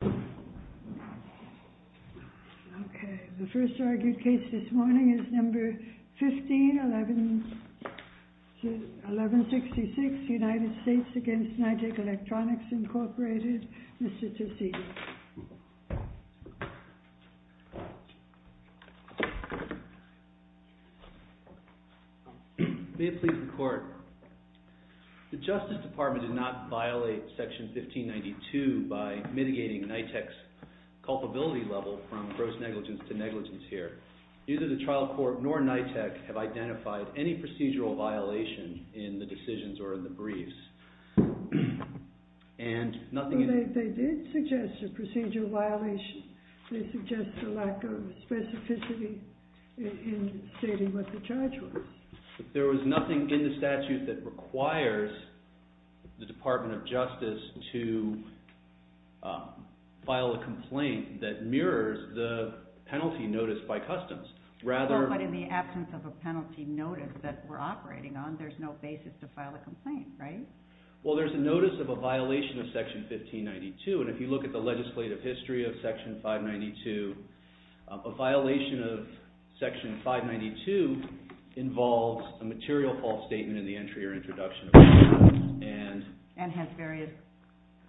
May it please the Court, the Justice Department did not violate Section 1592 by mitigating Nitek's culpability level from gross negligence to negligence here. Neither the Trial Court nor Nitek have identified any procedural violation in the decisions or in the briefs. And nothing... They did suggest a procedural violation. They suggest a lack of specificity in stating what the charge was. There was nothing in the statute that requires the Department of Justice to file a complaint that mirrors the penalty notice by customs. Well, but in the absence of a penalty notice that we're operating on, there's no basis to file a complaint, right? Well, there's a notice of a violation of Section 1592, and if you look at the legislative history of Section 592, a violation of Section 592 involves a material false statement in the entry or introduction of the charge and... And has various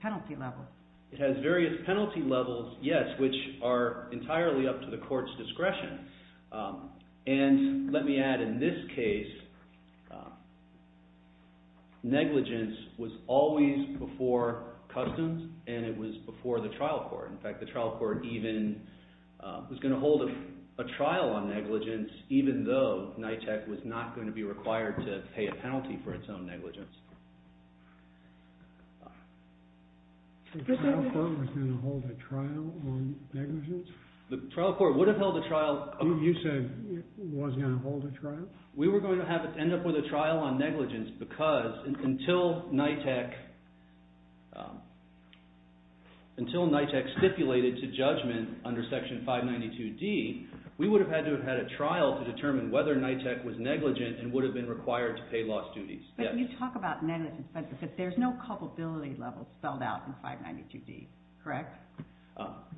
penalty levels. It has various penalty levels, yes, which are entirely up to the Court's discretion. And let me add, in this case, negligence was always before customs and it was before the Trial Court even was going to hold a trial on negligence, even though Nitek was not going to be required to pay a penalty for its own negligence. The Trial Court was going to hold a trial on negligence? The Trial Court would have held a trial... You said it was going to hold a trial? We were going to have it end up with a trial on negligence because until Nitek... ...was admitted to judgment under Section 592D, we would have had to have had a trial to determine whether Nitek was negligent and would have been required to pay lost duties. But you talk about negligence, but there's no culpability level spelled out in 592D, correct?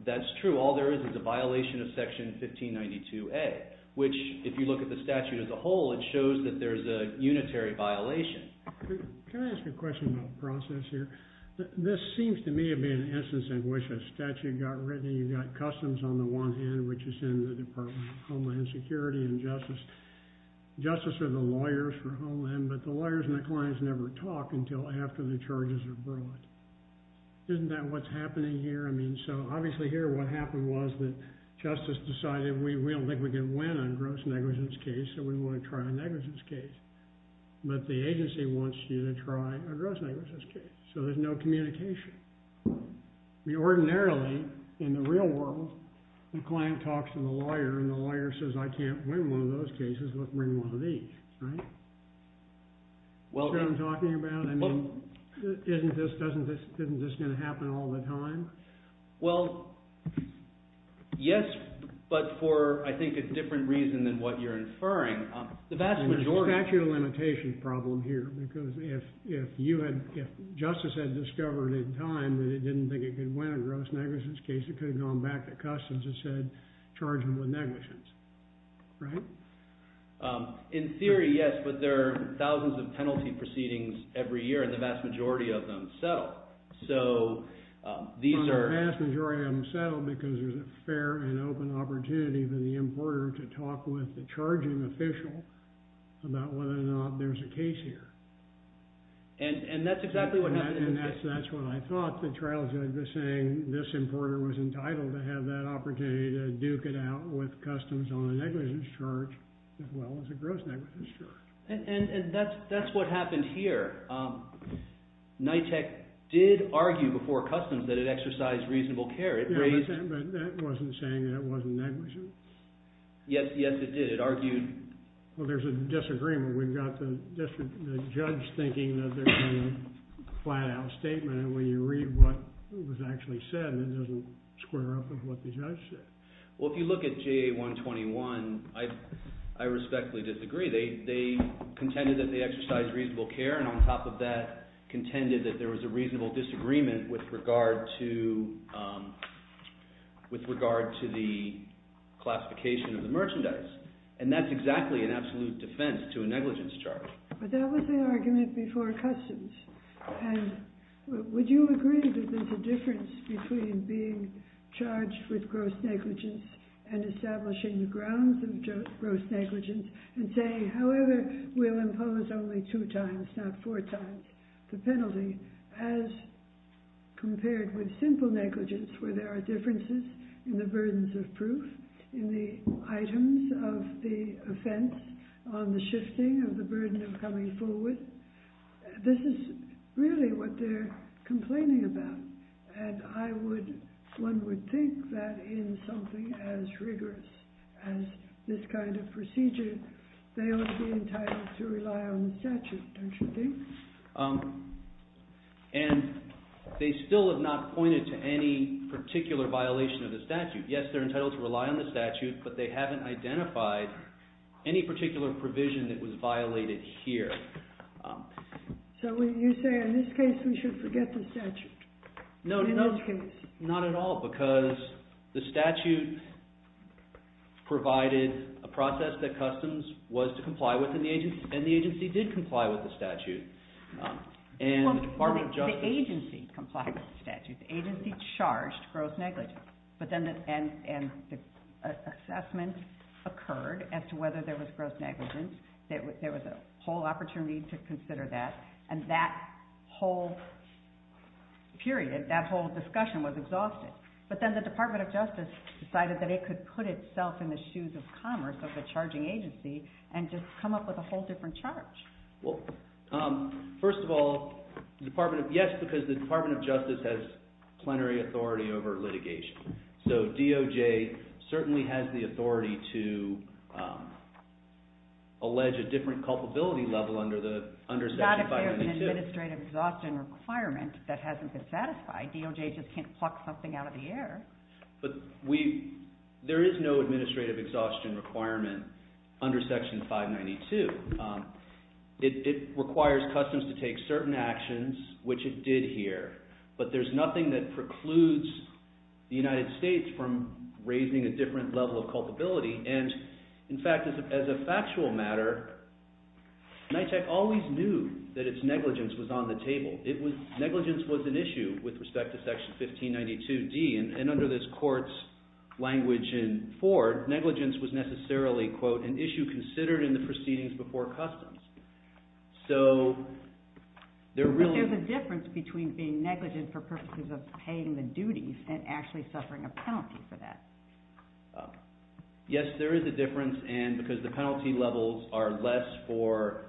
That's true. All there is is a violation of Section 1592A, which, if you look at the statute as a whole, it shows that there's a unitary violation. Can I ask a question about the process here? This seems to me to be an instance in which a statute got written and you got customs on the one hand, which is in the Department of Homeland Security and Justice. Justice are the lawyers for homeland, but the lawyers and the clients never talk until after the charges are brought. Isn't that what's happening here? I mean, so obviously here what happened was that justice decided we don't think we can win on gross negligence case, so we want to try a negligence case. But the agency wants you to try a gross negligence case. So there's no communication. We ordinarily, in the real world, the client talks to the lawyer and the lawyer says, I can't win one of those cases, let's win one of these, right? That's what I'm talking about? I mean, isn't this going to happen all the time? Well, yes, but for, I think, a different reason than what you're inferring. There's actually a limitation problem here because if justice had discovered in time that it didn't think it could win a gross negligence case, it could have gone back to customs and said, charge them with negligence, right? In theory, yes, but there are thousands of penalty proceedings every year and the vast majority of them settle. So these are... The vast majority of them settle because there's a fair and open opportunity for the importer to talk with the charging official about whether or not there's a case here. And that's exactly what happened. And that's what I thought. The trial judge was saying this importer was entitled to have that opportunity to duke it out with customs on a negligence charge as well as a gross negligence charge. And that's what happened here. NYTEC did argue before customs that it exercised reasonable care. It raised... But that wasn't saying that it wasn't negligent. Yes, it did. It argued... Well, there's a disagreement. We've got the judge thinking that there's been a flat out statement. And when you read what was actually said, it doesn't square up with what the judge said. Well, if you look at JA 121, I respectfully disagree. They contended that they exercised reasonable care. And on top of that, contended that there was a reasonable disagreement with regard to the classification of the merchandise. And that's exactly an absolute defense to a negligence charge. But that was the argument before customs. And would you agree that there's a difference between being charged with gross negligence and establishing the grounds of gross negligence and saying, however, we'll impose only two times, not four times, the penalty as compared with simple negligence where there are differences in the burdens of proof, in the items of the offense, on the shifting of the burden of coming forward? This is really what they're complaining about. And I would... One would think that in something as rigorous as this kind of procedure, they ought to be entitled to rely on the statute, don't you think? And they still have not pointed to any particular violation of the statute. Yes, they're entitled to rely on the statute, but they haven't identified any particular provision that was violated here. So you're saying in this case, we should forget the statute? No, not at all, because the statute provided a process that customs was to comply with, and the agency did comply with the statute. And the Department of Justice... The agency complied with the statute. The agency charged gross negligence. But then the assessment occurred as to whether there was gross negligence. There was a whole opportunity to consider that. And that whole period, that whole discussion was exhausted. So you can't just take the charge of commerce, of the charging agency, and just come up with a whole different charge. Well, first of all, yes, because the Department of Justice has plenary authority over litigation. So DOJ certainly has the authority to allege a different culpability level under section 592. Not if there's an administrative exhaustion requirement that hasn't been satisfied. DOJ just can't pluck something out of the air. But there is no administrative exhaustion requirement under section 592. It requires customs to take certain actions, which it did here. But there's nothing that precludes the United States from raising a different level of culpability. And in fact, as a factual matter, NYCHAC always knew that its negligence was on the table. Negligence was an issue with respect to section 1592D. And under this court's language in Ford, negligence was necessarily, quote, an issue considered in the proceedings before customs. So there really- But there's a difference between being negligent for purposes of paying the duties and actually suffering a penalty for that. Yes, there is a difference. And because the penalty levels are less for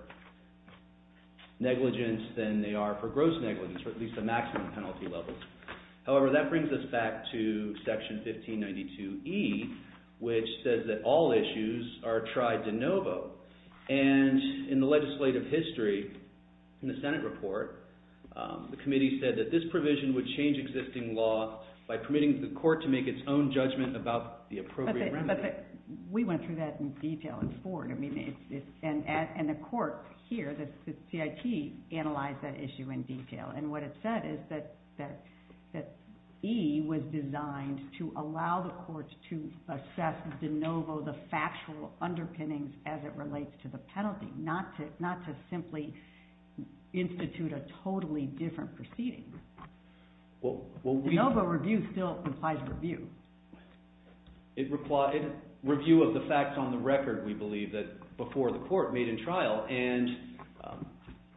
negligence than they are for gross negligence, or at least the maximum penalty levels. However, that brings us back to section 1592E, which says that all issues are tried de novo. And in the legislative history, in the Senate report, the committee said that this provision would change existing law by permitting the court to make its own judgment about the appropriate remedy. We went through that in detail in Ford. And the court here, the CIT, analyzed that issue in detail. And what it said is that E was designed to allow the courts to assess de novo the factual underpinnings as it relates to the penalty, not to simply institute a totally different proceeding. De novo review still implies review. It requires review of the facts on the record, we believe, that before the court made in trial. And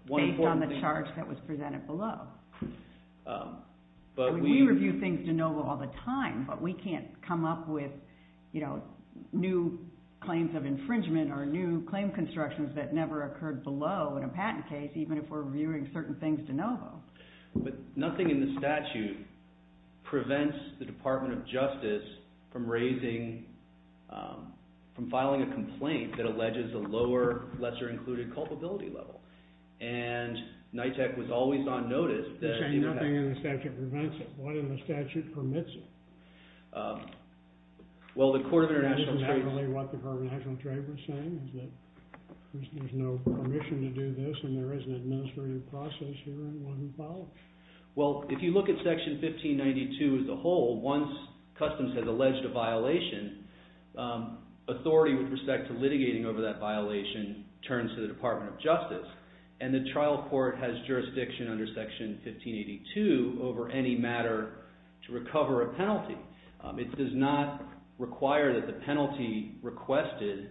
one important thing. Based on the charge that was presented below. We review things de novo all the time. But we can't come up with new claims of infringement or new claim constructions that never occurred below in a patent case, even if we're reviewing certain things de novo. But nothing in the statute prevents the Department of Justice from raising, from filing a complaint that has an administrative culpability level. And NITEC was always on notice that. You're saying nothing in the statute prevents it. What in the statute permits it? Well, the Court of International Trade. That's exactly what the Court of International Trade was saying. There's no permission to do this. And there is an administrative process here and one that follows. Well, if you look at section 1592 as a whole, once customs has alleged a violation, authority with respect to litigating over that violation turns to the Department of Justice. And the trial court has jurisdiction under section 1582 over any matter to recover a penalty. It does not require that the penalty requested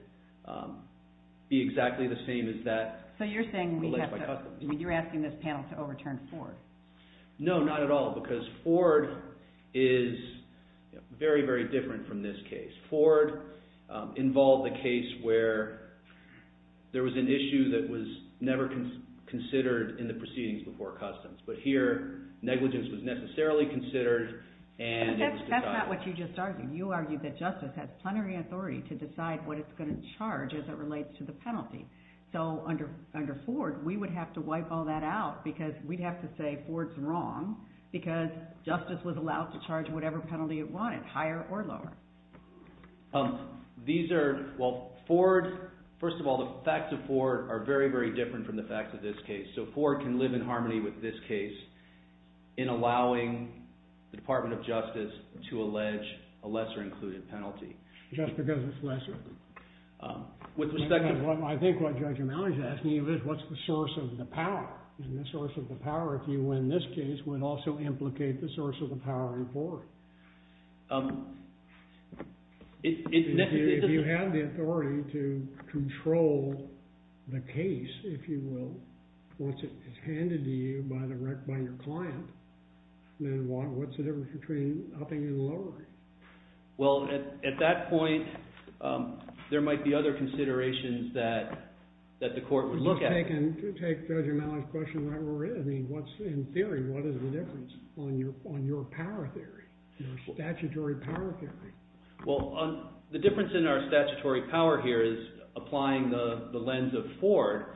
be exactly the same as that alleged by customs. So you're asking this panel to overturn Ford? No, not at all. Because Ford is very, very different from this case. Ford involved the case where there was an issue that was never considered in the proceedings before customs. But here, negligence was necessarily considered and it was decided. That's not what you just argued. You argued that justice has plenary authority to decide what it's going to charge as it relates to the penalty. So under Ford, we would have to wipe all that out because we'd have to say Ford's wrong because justice was allowed to charge whatever penalty it wanted, higher or lower. These are, well, Ford, first of all, the facts of Ford are very, very different from the facts of this case. So Ford can live in harmony with this case in allowing the Department of Justice to allege a lesser included penalty. Just because it's lesser? With respect to what I think what Judge O'Malley's asking is what's the source of the power? And the source of the power, if you win this case, would also implicate the source of the power in Ford. If you have the authority to control the case, if you will, once it is handed to you by your client, then what's the difference between upping and lowering? Well, at that point, there might be other considerations that the court would look at. You could take Judge O'Malley's question right where we're at. In theory, what is the difference on your power theory, your statutory power theory? Well, the difference in our statutory power here is applying the lens of Ford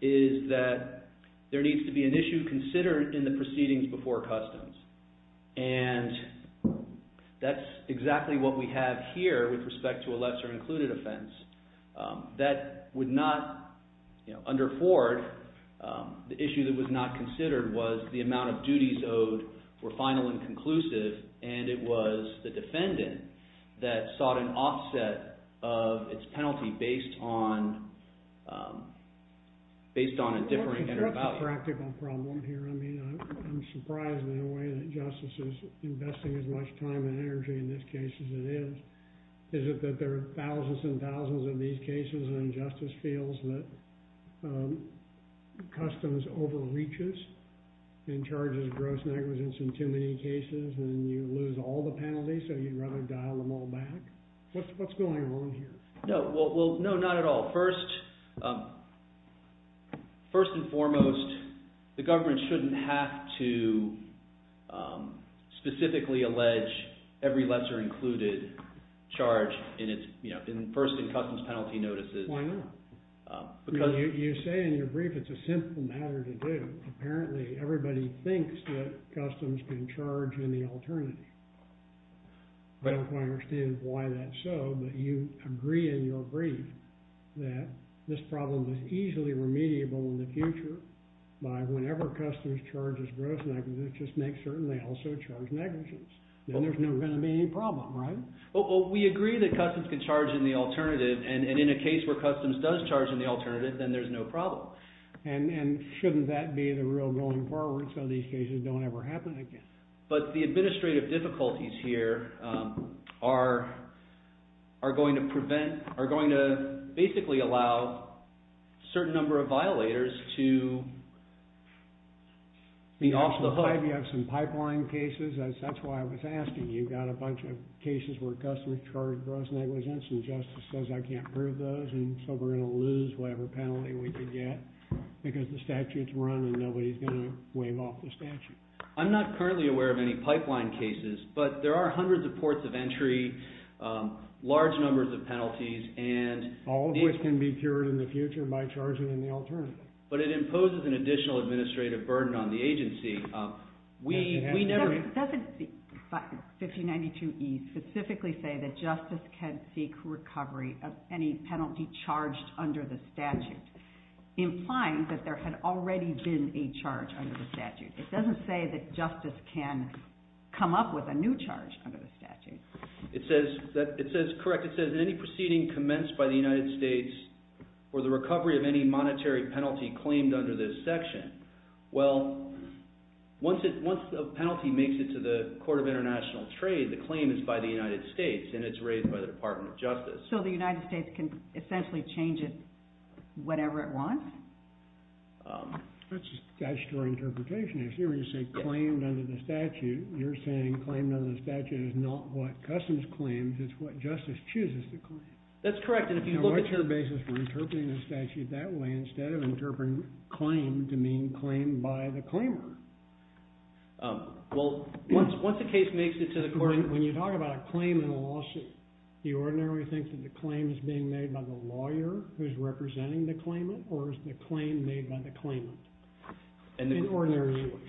is that there needs to be an issue considered in the proceedings before customs. And that's exactly what we have here with respect to a lesser included offense. That would not, under Ford, the issue that was not considered was the amount of duties owed were final and conclusive. And it was the defendant that sought an offset of its penalty based on a differing inner value. Well, that's a practical problem here. I mean, I'm surprised in a way that justice is investing as much time and energy in this case as it is. Is it that there are thousands and thousands of these cases and justice feels that customs overreaches and charges gross negligence in too many cases and you lose all the penalties? So you'd rather dial them all back? What's going on here? No, well, no, not at all. First and foremost, the government shouldn't have to specifically allege every lesser included charge first in customs penalty notices. Why not? Because you say in your brief it's a simple matter to do. Apparently, everybody thinks that customs can charge any alternative. I don't quite understand why that's so, but you agree in your brief that this problem is easily remediable in the future by whenever customs charges gross negligence, just make certain they also charge negligence. Then there's never going to be any problem, right? Well, we agree that customs can charge in the alternative and in a case where customs does charge in the alternative, then there's no problem. And shouldn't that be the rule going forward so these cases don't ever happen again? But the administrative difficulties here are going to prevent, are going to basically allow a certain number of violators to be off the hook. You have some pipeline cases. That's why I was asking. You've got a bunch of cases where customs charge gross negligence and justice says I can't prove those. And so we're going to lose whatever penalty we can get because the statute's run and nobody's going to waive off the statute. I'm not currently aware of any pipeline cases, but there are hundreds of ports of entry, large numbers of penalties. And all of which can be cured in the future by charging in the alternative. But it imposes an additional administrative burden on the agency. We never. Doesn't the 5092E specifically say that justice can seek recovery of any penalty charged under the statute, implying that there had already been a charge under the statute? It doesn't say that justice can come up with a new charge under the statute. It says, correct, it says any proceeding commenced by the United States for the recovery of any monetary penalty claimed under this section. Well, once a penalty makes it to the Court of International Trade, the claim is by the United States and it's raised by the Department of Justice. So the United States can essentially change it whatever it wants? That's just a statutory interpretation. If you were to say claimed under the statute, you're saying claimed under the statute is not what customs claims, it's what justice chooses to claim. That's correct. And if you look at your basis for interpreting the statute that way, instead of interpreting claimed to mean claimed by the claimer. Well, once a case makes it to the court. When you talk about a claim in a lawsuit, do you ordinarily think that the claim is being made by the lawyer who's representing the claimant, or is the claim made by the claimant? In ordinary language.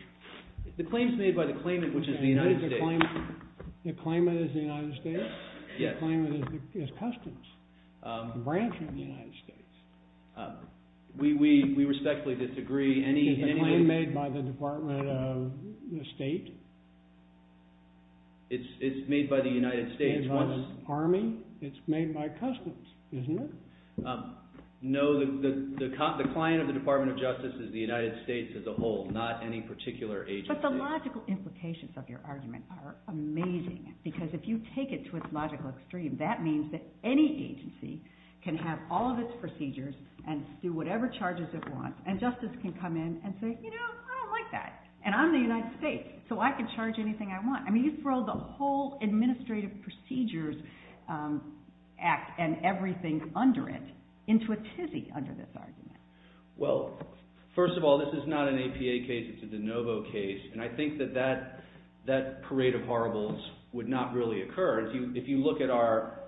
The claim's made by the claimant, which is the United States. The claimant is the United States? Yes. The claimant is customs, a branch of the United States. We respectfully disagree. Is the claim made by the Department of State? It's made by the United States. It's not an army? It's made by customs, isn't it? No, the client of the Department of Justice is the United States as a whole, not any particular agency. But the logical implications of your argument are amazing, because if you take it to its logical extreme, that means that any agency can have all of its procedures and do whatever charges it wants. And justice can come in and say, you know, I don't like that. And I'm the United States, so I can charge anything I want. I mean, you throw the whole Administrative Procedures Act and everything under it into a tizzy under this argument. Well, first of all, this is not an APA case. It's a de novo case. And I think that that parade of horribles would not really occur. If you look at our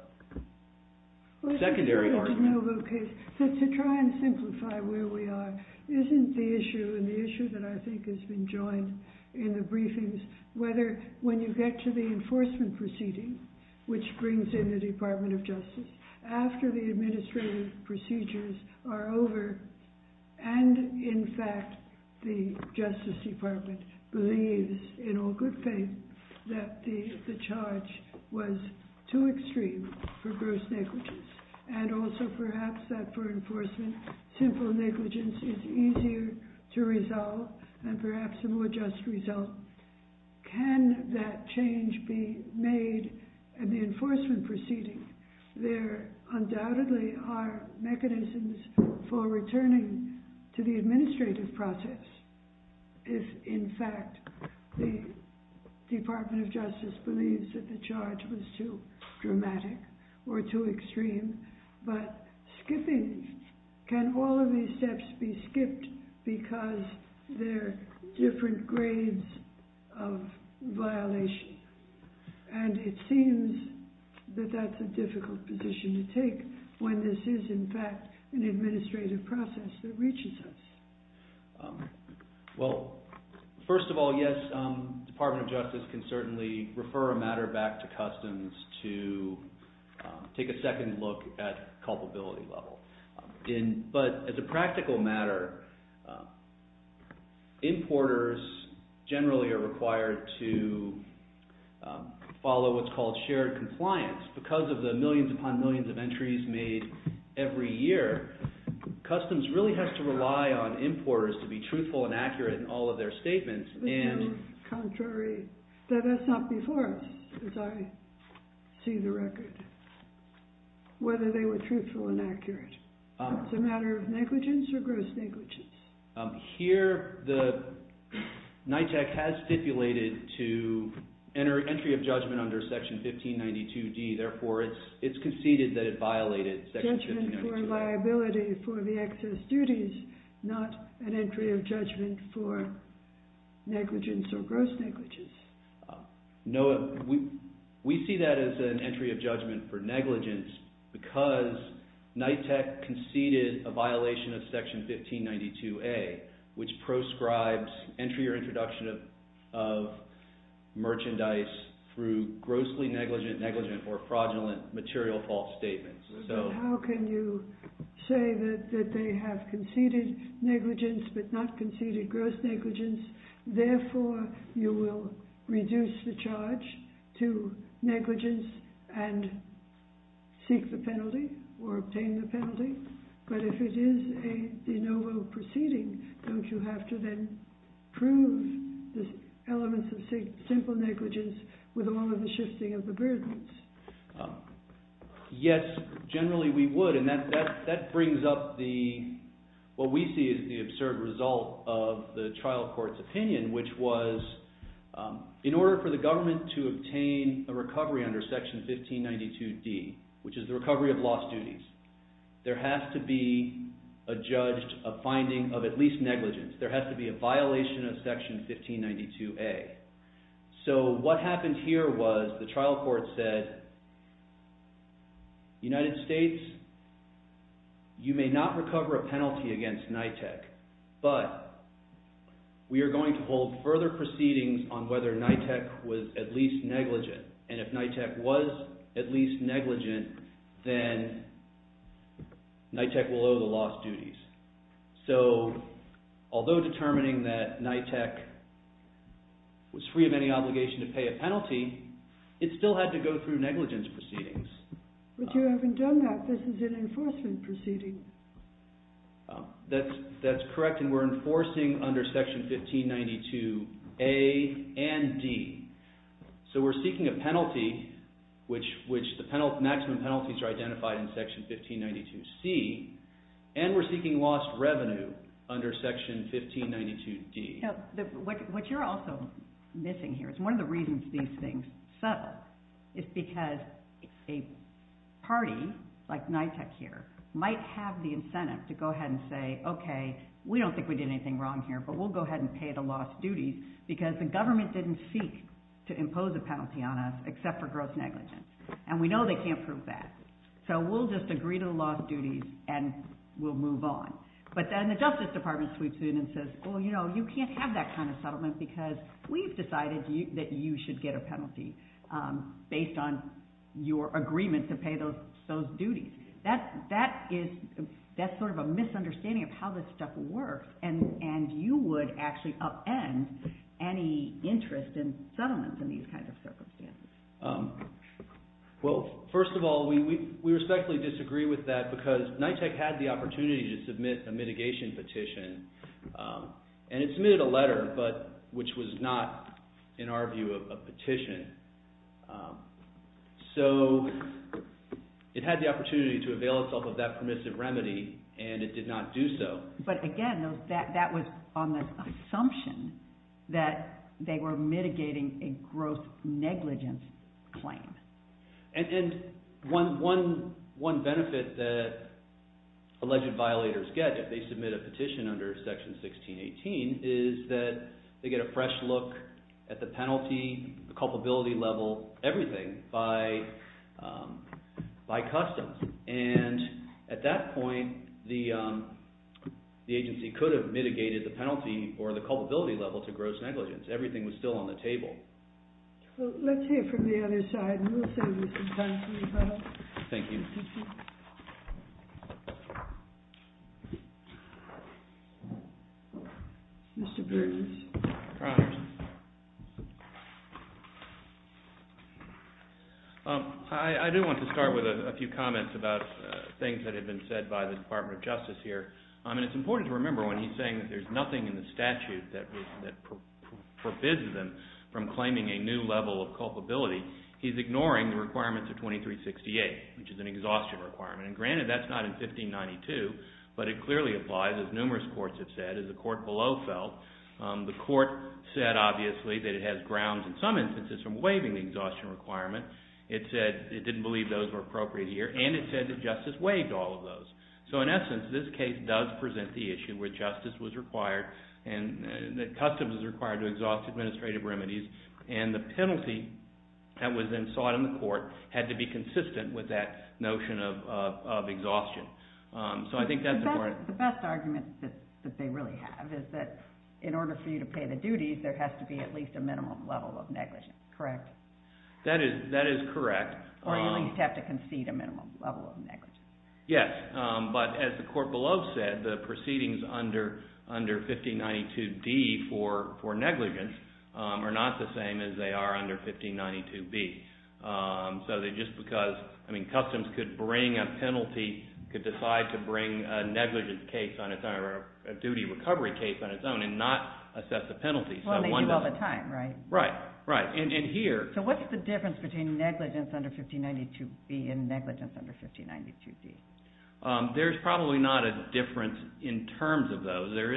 secondary argument. Well, it's a de novo case. So to try and simplify where we are, isn't the issue, and the issue that I think has been joined in the briefings, whether when you get to the enforcement proceeding, which brings in the Department of Justice, after the administrative procedures are over, and in fact, the Justice Department believes in all good faith that the charge was too extreme for gross negligence, and also perhaps that for enforcement, simple negligence is easier to resolve, and perhaps a more just result. Can that change be made in the enforcement proceeding? There undoubtedly are mechanisms for returning to the administrative process if, in fact, the Department of Justice believes that the charge was too dramatic or too extreme. But skipping, can all of these steps be skipped because they're different grades of violation? And it seems that that's a difficult position to take when this is, in fact, an administrative process that reaches us. Well, first of all, yes, the Department of Justice can certainly refer a matter back to customs to take a second look at culpability level. But as a practical matter, importers generally are required to follow what's called shared compliance. Because of the millions upon millions of entries made every year, customs really has to rely on importers to be truthful and accurate in all of their statements. There's no contrary. That's not before us, as I see the record, whether they were truthful and accurate. It's a matter of negligence or gross negligence. Here, NYCHAC has stipulated to enter entry of judgment under Section 1592D. Therefore, it's conceded that it violated Section 1592A. Judgment for liability for the excess duties, not an entry of judgment for negligence or gross negligence. No, we see that as an entry of judgment for negligence because NYCHAC conceded a violation of Section 1592A, which proscribes entry or introduction of merchandise through grossly negligent, negligent, or fraudulent material false statements. How can you say that they have conceded negligence, but not conceded gross negligence? Therefore, you will reduce the charge to negligence and seek the penalty or obtain the penalty. But if it is a de novo proceeding, don't you have to then prove the elements of simple negligence with all of the shifting of the burdens? Yes, generally we would. And that brings up what we see as the absurd result of the trial court's opinion, which was in order for the government to obtain a recovery under Section 1592D, which is the recovery of lost duties, there has to be a finding of at least negligence. There has to be a violation of Section 1592A. So what happened here was the trial court said, United States, you may not recover a penalty against NYCHAC, but we are going to hold further proceedings on whether NYCHAC was at least negligent. And if NYCHAC was at least negligent, then NYCHAC will owe the lost duties. So although determining that NYCHAC was free of any obligation to pay a penalty, it still had to go through negligence proceedings. But you haven't done that. This is an enforcement proceeding. That's correct. And we're enforcing under Section 1592A and D. So we're seeking a penalty, which the maximum penalties are identified in Section 1592C. And we're seeking lost revenue under Section 1592D. What you're also missing here, it's one of the reasons these things settle, is because a party like NYCHAC here might have the incentive to go ahead and say, OK, we don't think we did anything wrong here, but we'll go ahead and pay the lost duties. Because the government didn't seek to impose a penalty on us except for gross negligence. And we know they can't prove that. So we'll just agree to the lost duties, and we'll move on. But then the Justice Department sweeps in and says, well, you know, you can't have that kind of settlement because we've decided that you should get a penalty based on your agreement to pay those duties. That's sort of a misunderstanding of how this stuff works. in these kinds of circumstances. Well, first of all, we respectfully disagree with that, because NYCHAC had the opportunity to submit a mitigation petition. And it submitted a letter, which was not, in our view, a petition. So it had the opportunity to avail itself of that permissive remedy, and it did not do so. But again, that was on the assumption that they were mitigating a gross negligence claim. And one benefit that alleged violators get if they submit a petition under Section 1618 is that they get a fresh look at the penalty, the culpability level, everything by customs. And at that point, the agency could have mitigated the penalty or the culpability level to gross negligence. Everything was still on the table. Let's hear from the other side, and we'll save you some time for rebuttal. Thank you. Mr. Burgess. Your Honor, I do want to start with a few comments about things that have been said by the Department of Justice here. And it's important to remember when he's saying that there's nothing in the statute that forbids them from claiming a new level of culpability, he's ignoring the requirements of 2368, which is an exhaustion requirement. And granted, that's not in 1592, but it clearly applies, as numerous courts have said. As the court below felt, the court said, obviously, that it has grounds, in some instances, from waiving the exhaustion requirement. It said it didn't believe those were appropriate here, and it said that justice waived all of those. So in essence, this case does present the issue where justice was required, and that customs was required to exhaust administrative remedies. And the penalty that was then sought in the court had to be consistent with that notion of exhaustion. So I think that's important. The best argument that they really have is that in order for you to pay the duties, there has to be at least a minimum level of negligence. Correct? That is correct. Or you at least have to concede a minimum level of negligence. Yes, but as the court below said, the proceedings under 1592D for negligence are not the same as they are under 1592B. So just because, I mean, customs could bring a penalty, could decide to bring a negligence case on its own, or a duty recovery case on its own, and not assess the penalty. Well, they do all the time, right? Right, right. And here. So what's the difference between negligence under 1592B and negligence under 1592D? There's probably not a difference in terms of those. There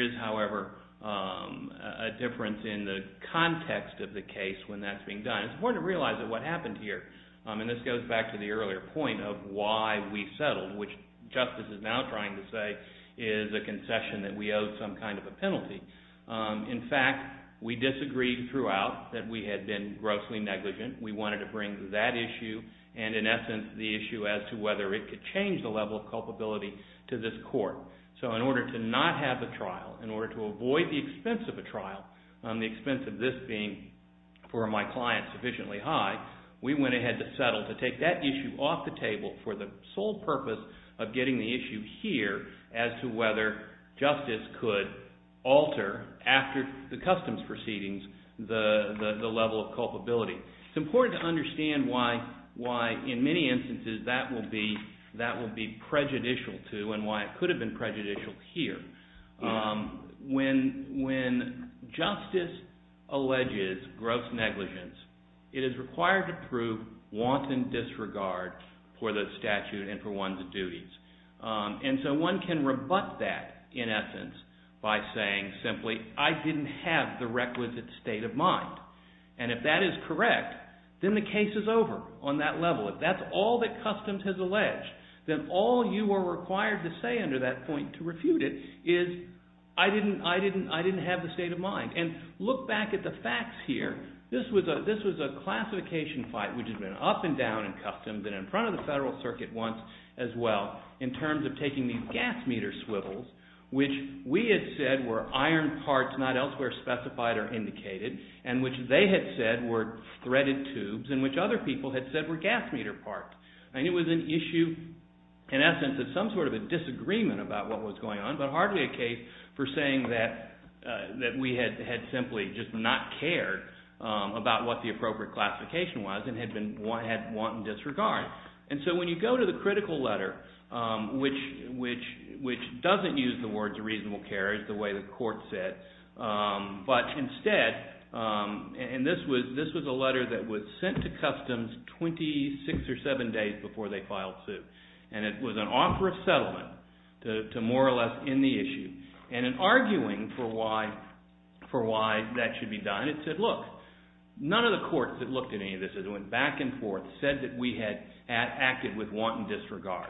is, however, a difference in the context of the case when that's being done. It's important to realize that what happened here, and this goes back to the earlier point of why we settled, which justice is now trying to say is a concession that we owe some kind of a penalty. In fact, we disagreed throughout that we had been grossly negligent. We wanted to bring that issue, and in essence, the issue as to whether it could change the level of culpability to this court. So in order to not have a trial, in order to avoid the expense of a trial, the expense of this being, for my client, sufficiently high, we went ahead to settle to take that issue off the table for the sole purpose of getting the issue here as to whether justice could alter, after the customs proceedings, the level of culpability. It's important to understand why, in many instances, that will be prejudicial to and why it could have been prejudicial here. When justice alleges gross negligence, it is required to prove wanton disregard for the statute and for one's duties. And so one can rebut that, in essence, by saying simply, I didn't have the requisite state of mind. And if that is correct, then the case is over on that level. If that's all that customs has alleged, then all you are required to say under that point to refute it is, I didn't have the state of mind. And look back at the facts here. This was a classification fight, which had been up and down in customs and in front of the Federal Circuit once as well, in terms of taking these gas meter swivels, which we had said were iron parts, not elsewhere specified or indicated, and which they had said were threaded tubes, and which other people had said were gas meter parts. And it was an issue, in essence, of some sort of a disagreement about what was going on, but hardly a case for saying that we had simply just not cared about what the appropriate classification was and had wanton disregard. And so when you go to the critical letter, which doesn't use the words reasonable care, the way the court said. But instead, and this was a letter that was sent to customs 26 or 27 days before they filed suit. And it was an offer of settlement to more or less end the issue. And in arguing for why that should be done, it said, look, none of the courts that looked at any of this, that went back and forth, said that we had acted with wanton disregard.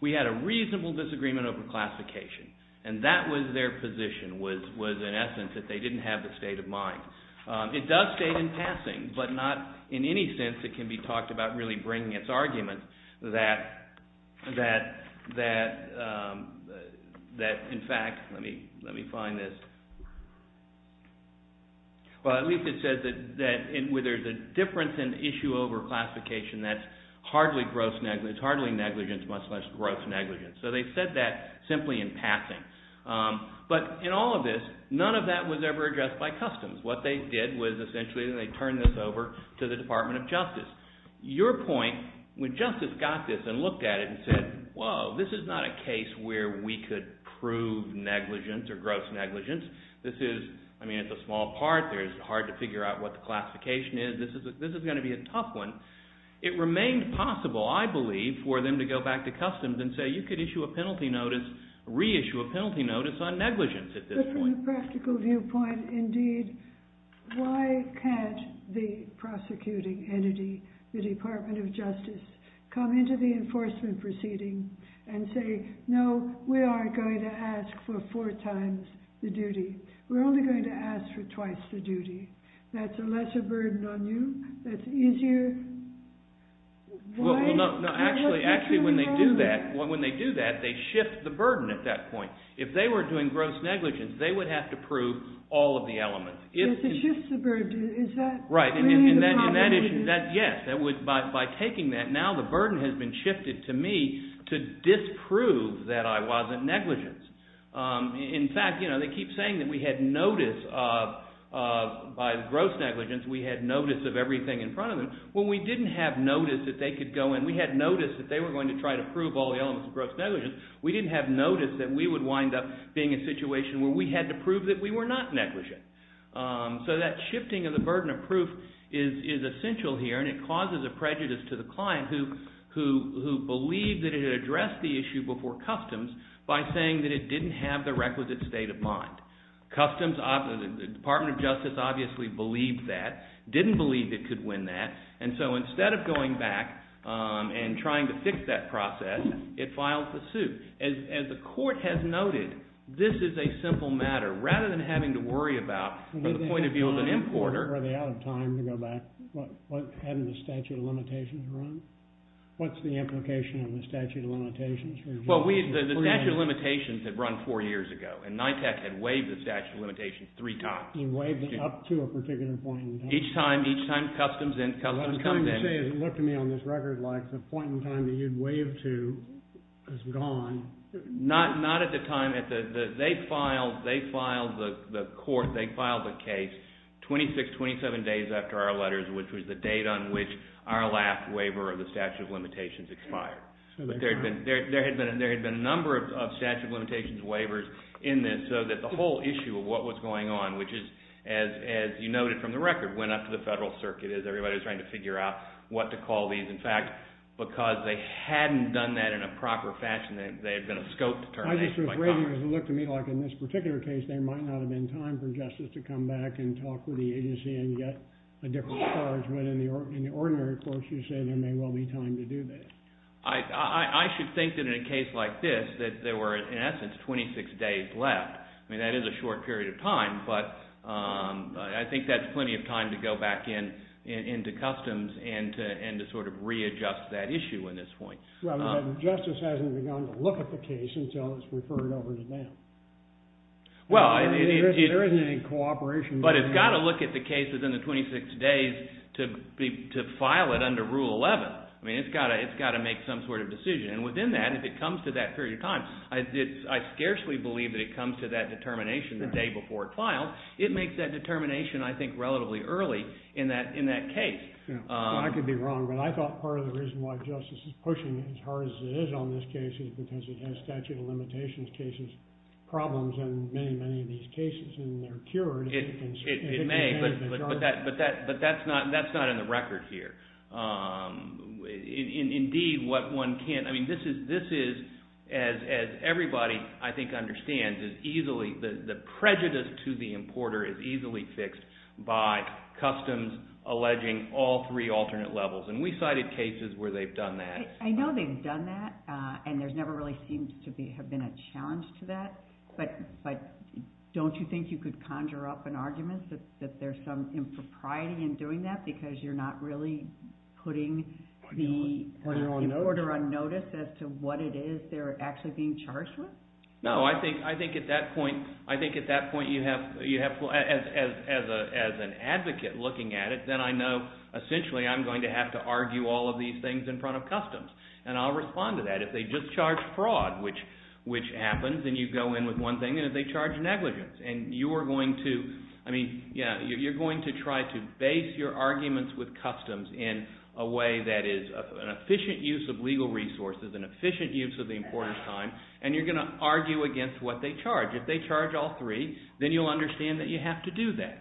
We had a reasonable disagreement over classification. And that was their position, was, in essence, that they didn't have the state of mind. It does state in passing, but not in any sense it can be talked about really bringing its argument that, in fact, let me find this. Well, at least it says that where there's a difference in issue over classification, that's hardly negligence, much less gross negligence. So they said that simply in passing. But in all of this, none of that was ever addressed by customs. What they did was essentially they turned this over to the Department of Justice. Your point, when justice got this and looked at it and said, whoa, this is not a case where we could prove negligence or gross negligence. This is, I mean, it's a small part. It's hard to figure out what the classification is. This is going to be a tough one. It remained possible, I believe, for them to go back to customs and say, you could issue a penalty notice, reissue a penalty notice on negligence at this point. But from a practical viewpoint, indeed, why can't the prosecuting entity, the Department of Justice, come into the enforcement proceeding and say, no, we are going to ask for four times the duty. We're only going to ask for twice the duty. That's a lesser burden on you. That's easier. Well, no, actually, when they do that, they shift the burden at that point. If they were doing gross negligence, they would have to prove all of the elements. If it shifts the burden, is that really the problem? Yes. By taking that, now the burden has been shifted to me to disprove that I wasn't negligent. In fact, they keep saying that we had notice of, by gross negligence, we had notice of everything in front of them. Well, we didn't have notice that they could go in. We had notice that they were going to try to prove all the elements of gross negligence. We didn't have notice that we would wind up being in a situation where we had to prove that we were not negligent. So that shifting of the burden of proof is essential here. And it causes a prejudice to the client who believed that it had addressed the issue before customs by saying that it didn't have the requisite state of mind. Customs, the Department of Justice obviously believed that, didn't believe it could win that. And so instead of going back and trying to fix that process, it filed the suit. As the court has noted, this is a simple matter. Rather than having to worry about, from the point of view of an importer. Were they out of time to go back? Hadn't the statute of limitations run? What's the implication of the statute of limitations? Well, the statute of limitations had run four years ago. And NITAC had waived the statute of limitations three times. And waived it up to a particular point in time. Each time, each time customs comes in. I was going to say, it looked to me on this record like the point in time that you'd waived to is gone. Not at the time. They filed the court, they filed the case, 26, 27 days after our letters, which was the date on which our last waiver of the statute of limitations expired. But there had been a number of statute of limitations waivers in this so that the whole issue of what was going on, as you noted from the record, went up to the federal circuit as everybody was trying to figure out what to call these. In fact, because they hadn't done that in a proper fashion, they had been a scope determination. I just was raving because it looked to me like in this particular case, there might not have been time for justice to come back and talk with the agency and get a different charge. When in the ordinary courts, you say there may well be time to do this. I should think that in a case like this, that there were, in essence, 26 days left. I mean, that is a short period of time. But I think that's plenty of time to go back into customs and to readjust that issue in this point. Justice hasn't begun to look at the case until it's referred over to bail. Well, it is. There isn't any cooperation. But it's got to look at the case within the 26 days to file it under Rule 11. I mean, it's got to make some sort of decision. And within that, if it comes to that period of time, I scarcely believe that it comes to that determination the day before it's filed. It makes that determination, I think, relatively early in that case. I could be wrong. But I thought part of the reason why justice is pushing as hard as it is on this case is because it has statute of limitations cases, problems, in many, many of these cases. And they're cured. It may. But that's not in the record here. Indeed, what one can't, I mean, this is, as everybody, I think, understands, is easily the prejudice to the importer is easily fixed by customs alleging all three alternate levels. And we cited cases where they've done that. I know they've done that. And there's never really seemed to have been a challenge to that. But don't you think you could conjure up an argument that there's some impropriety in doing that because you're not really putting the importer on notice as to what it is they're actually being charged with? No, I think at that point, as an advocate looking at it, then I know, essentially, I'm going to have to argue all of these things in front of customs. And I'll respond to that if they just charge fraud, which happens, and you go in with one thing, and if they charge negligence. And you are going to, I mean, you're going to try to base your arguments with customs in a way that is an efficient use of legal resources, an efficient use of the importer's time. And you're going to argue against what they charge. If they charge all three, then you'll understand that you have to do that.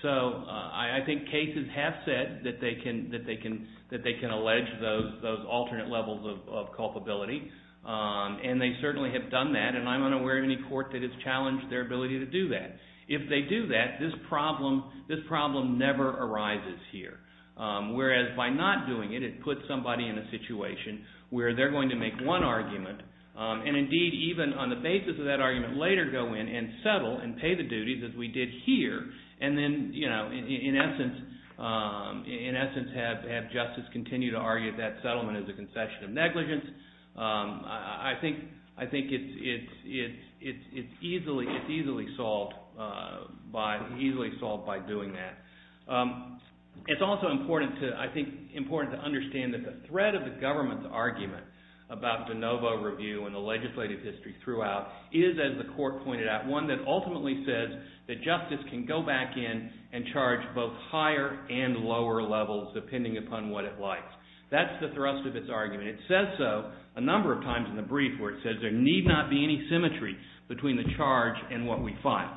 So I think cases have said that they can allege those alternate levels of culpability. And they certainly have done that. And I'm unaware of any court that has challenged their ability to do that. If they do that, this problem never arises here. Whereas by not doing it, it puts somebody in a situation where they're going to make one argument. And indeed, even on the basis of that argument, later go in and settle and pay the duties as we did here. And then, in essence, have justice continue to argue that settlement is a concession of negligence. I think it's easily solved by doing that. It's also important to, I think, important to understand that the threat of the government's argument about de novo review and the legislative history throughout is, as the court pointed out, one that ultimately says that justice can go back in and charge both higher and lower levels depending upon what it likes. That's the thrust of its argument. It says so a number of times in the brief, where it says, there need not be any symmetry between the charge and what we find.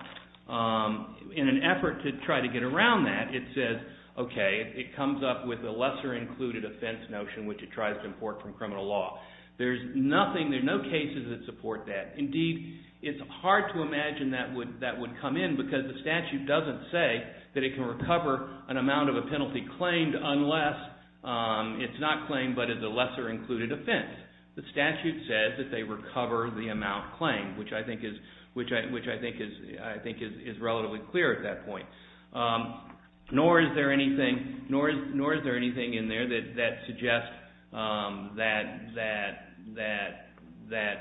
In an effort to try to get around that, it says, OK, it comes up with a lesser-included offense notion, which it tries to import from criminal law. There's nothing, there's no cases that support that. Indeed, it's hard to imagine that would come in, because the statute doesn't say that it can recover an amount of a penalty claimed unless it's not claimed but as a lesser-included offense. The statute says that they recover the amount claimed, which I think is relatively clear at that point. Nor is there anything in there that suggests that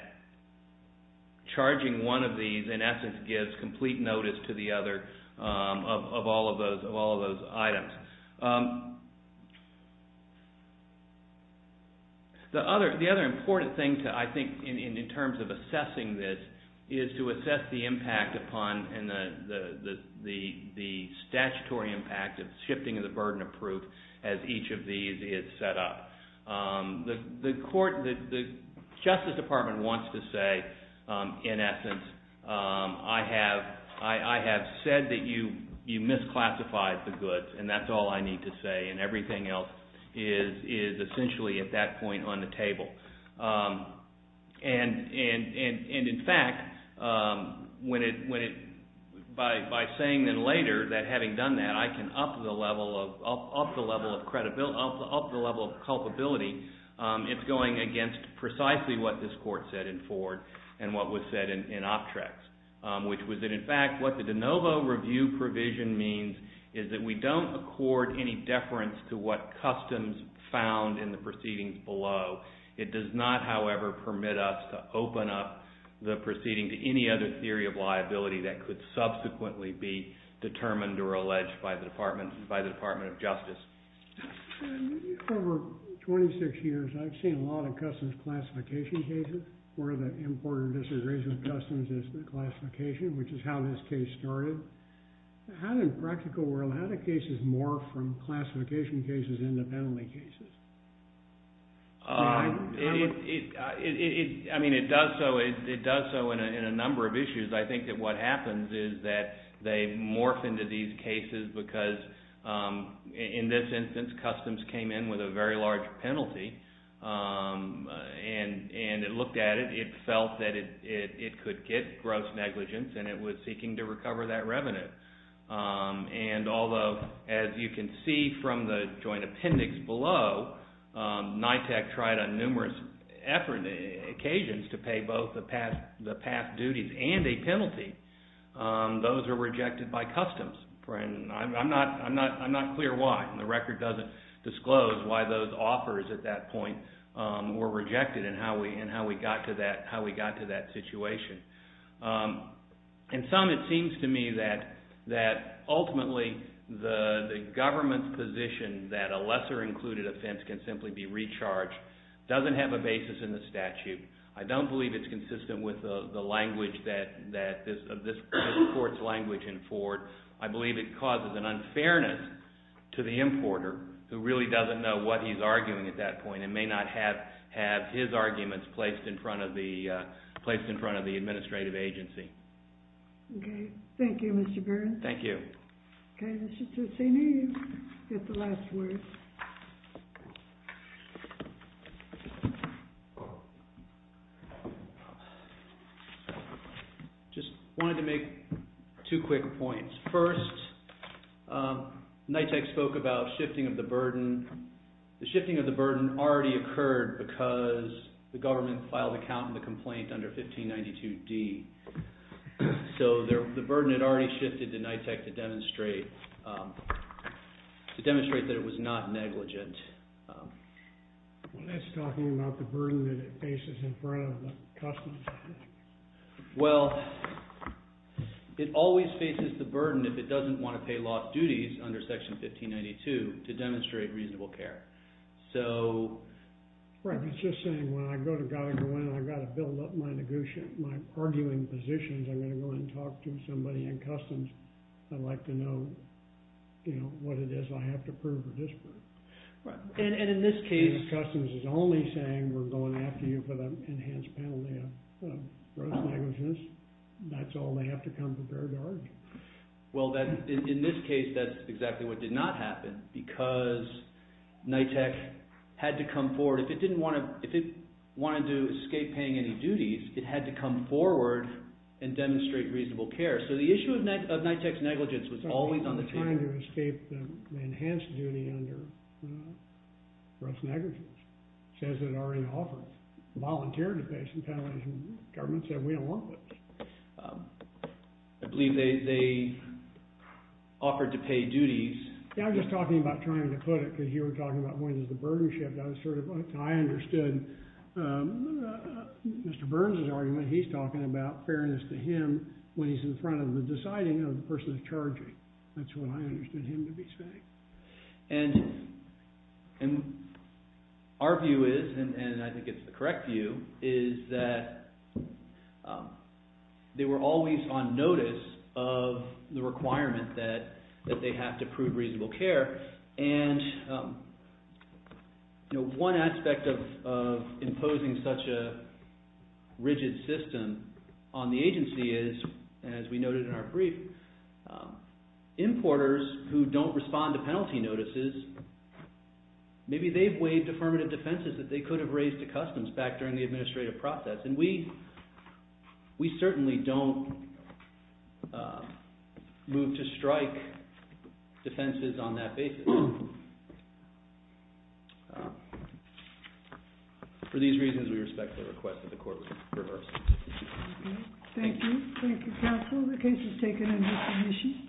charging one of these, in essence, gives complete notice to the other of all of those items. The other important thing, I think, in terms of assessing this, is to assess the impact upon and the statutory impact of shifting of the burden of proof as each of these is set up. The court, the Justice Department, wants to say, in essence, I have said that you misclassified the goods, and that's all I need to say. And everything else is, essentially, at that point, on the table. And in fact, by saying then later that having done that, I can up the level of credibility, it's going against precisely what this court said in Ford and what was said in Optrex, which was that, in fact, what the de novo review provision means is that we don't accord any deference to what customs found in the proceedings below. It does not, however, permit us to open up the proceeding to any other theory of liability that could subsequently be determined or alleged by the Department of Justice. Over 26 years, I've seen a lot of customs classification cases where the importer disagrees with customs as the classification, which is how this case started. How, in the practical world, how do cases morph from classification cases into penalty cases? I mean, it does so in a number of issues. I think that what happens is that they morph into these cases because, in this instance, customs came in with a very large penalty, and it looked at it. It felt that it could get gross negligence, and it was seeking to recover that revenue. And although, as you can see from the joint appendix below, NYTEC tried on numerous occasions to pay both the past duties and a penalty. Those are rejected by customs. I'm not clear why. The record doesn't disclose why those offers at that point were rejected and how we got to that situation. In sum, it seems to me that, ultimately, the government's position that a lesser-included offense can simply be recharged doesn't have a basis in the statute. I don't believe it's consistent with the language that this court's language in Ford. I believe it causes an unfairness to the importer who really doesn't know what he's arguing at that point and may not have his arguments placed in front of the administrative agency. OK. Thank you, Mr. Burns. Thank you. OK, Mr. Tussini, you get the last word. Just wanted to make two quick points. First, NYTEC spoke about shifting of the burden. The shifting of the burden already occurred because the government filed a count in the complaint under 1592D. So the burden had already shifted to NYTEC to demonstrate that it was not negligent. That's talking about the burden that it faces in front of the customs. Well, it always faces the burden if it doesn't want to pay lost duties under Section 1592 to demonstrate reasonable care. Right. It's just saying, when I go to Goddard and go in, I've got to build up my arguing positions. I'm going to go and talk to somebody in customs. I'd like to know what it is I have to prove or disprove. And in this case, customs is only saying we're going after you for the enhanced penalty of gross negligence. That's all they have to come prepared to argue. Well, in this case, that's exactly what did not happen. Because NYTEC had to come forward. If it wanted to escape paying any duties, it had to come forward and demonstrate reasonable care. So the issue of NYTEC's negligence was always on the table. It's not the time to escape the enhanced duty under gross negligence. It says it already offered to volunteer to pay some penalties, and the government said, we don't want this. I believe they offered to pay duties. I'm just talking about trying to put it, because you were talking about when does the burden shift. I understood Mr. Burns's argument. He's talking about fairness to him when he's in front of the deciding of the person who's charging. That's what I understood him to be saying. And our view is, and I think it's the correct view, is that they were always on notice of the requirement that they have to prove reasonable care. And one aspect of imposing such a rigid system on the agency is, as we noted in our brief, importers who don't respond to penalty notices, maybe they've waived affirmative defenses that they could have raised to customs back during the administrative process. And we certainly don't move to strike defenses on that basis. For these reasons, we respect the request that the court rehearse. Thank you. Thank you, counsel. The case is taken under submission.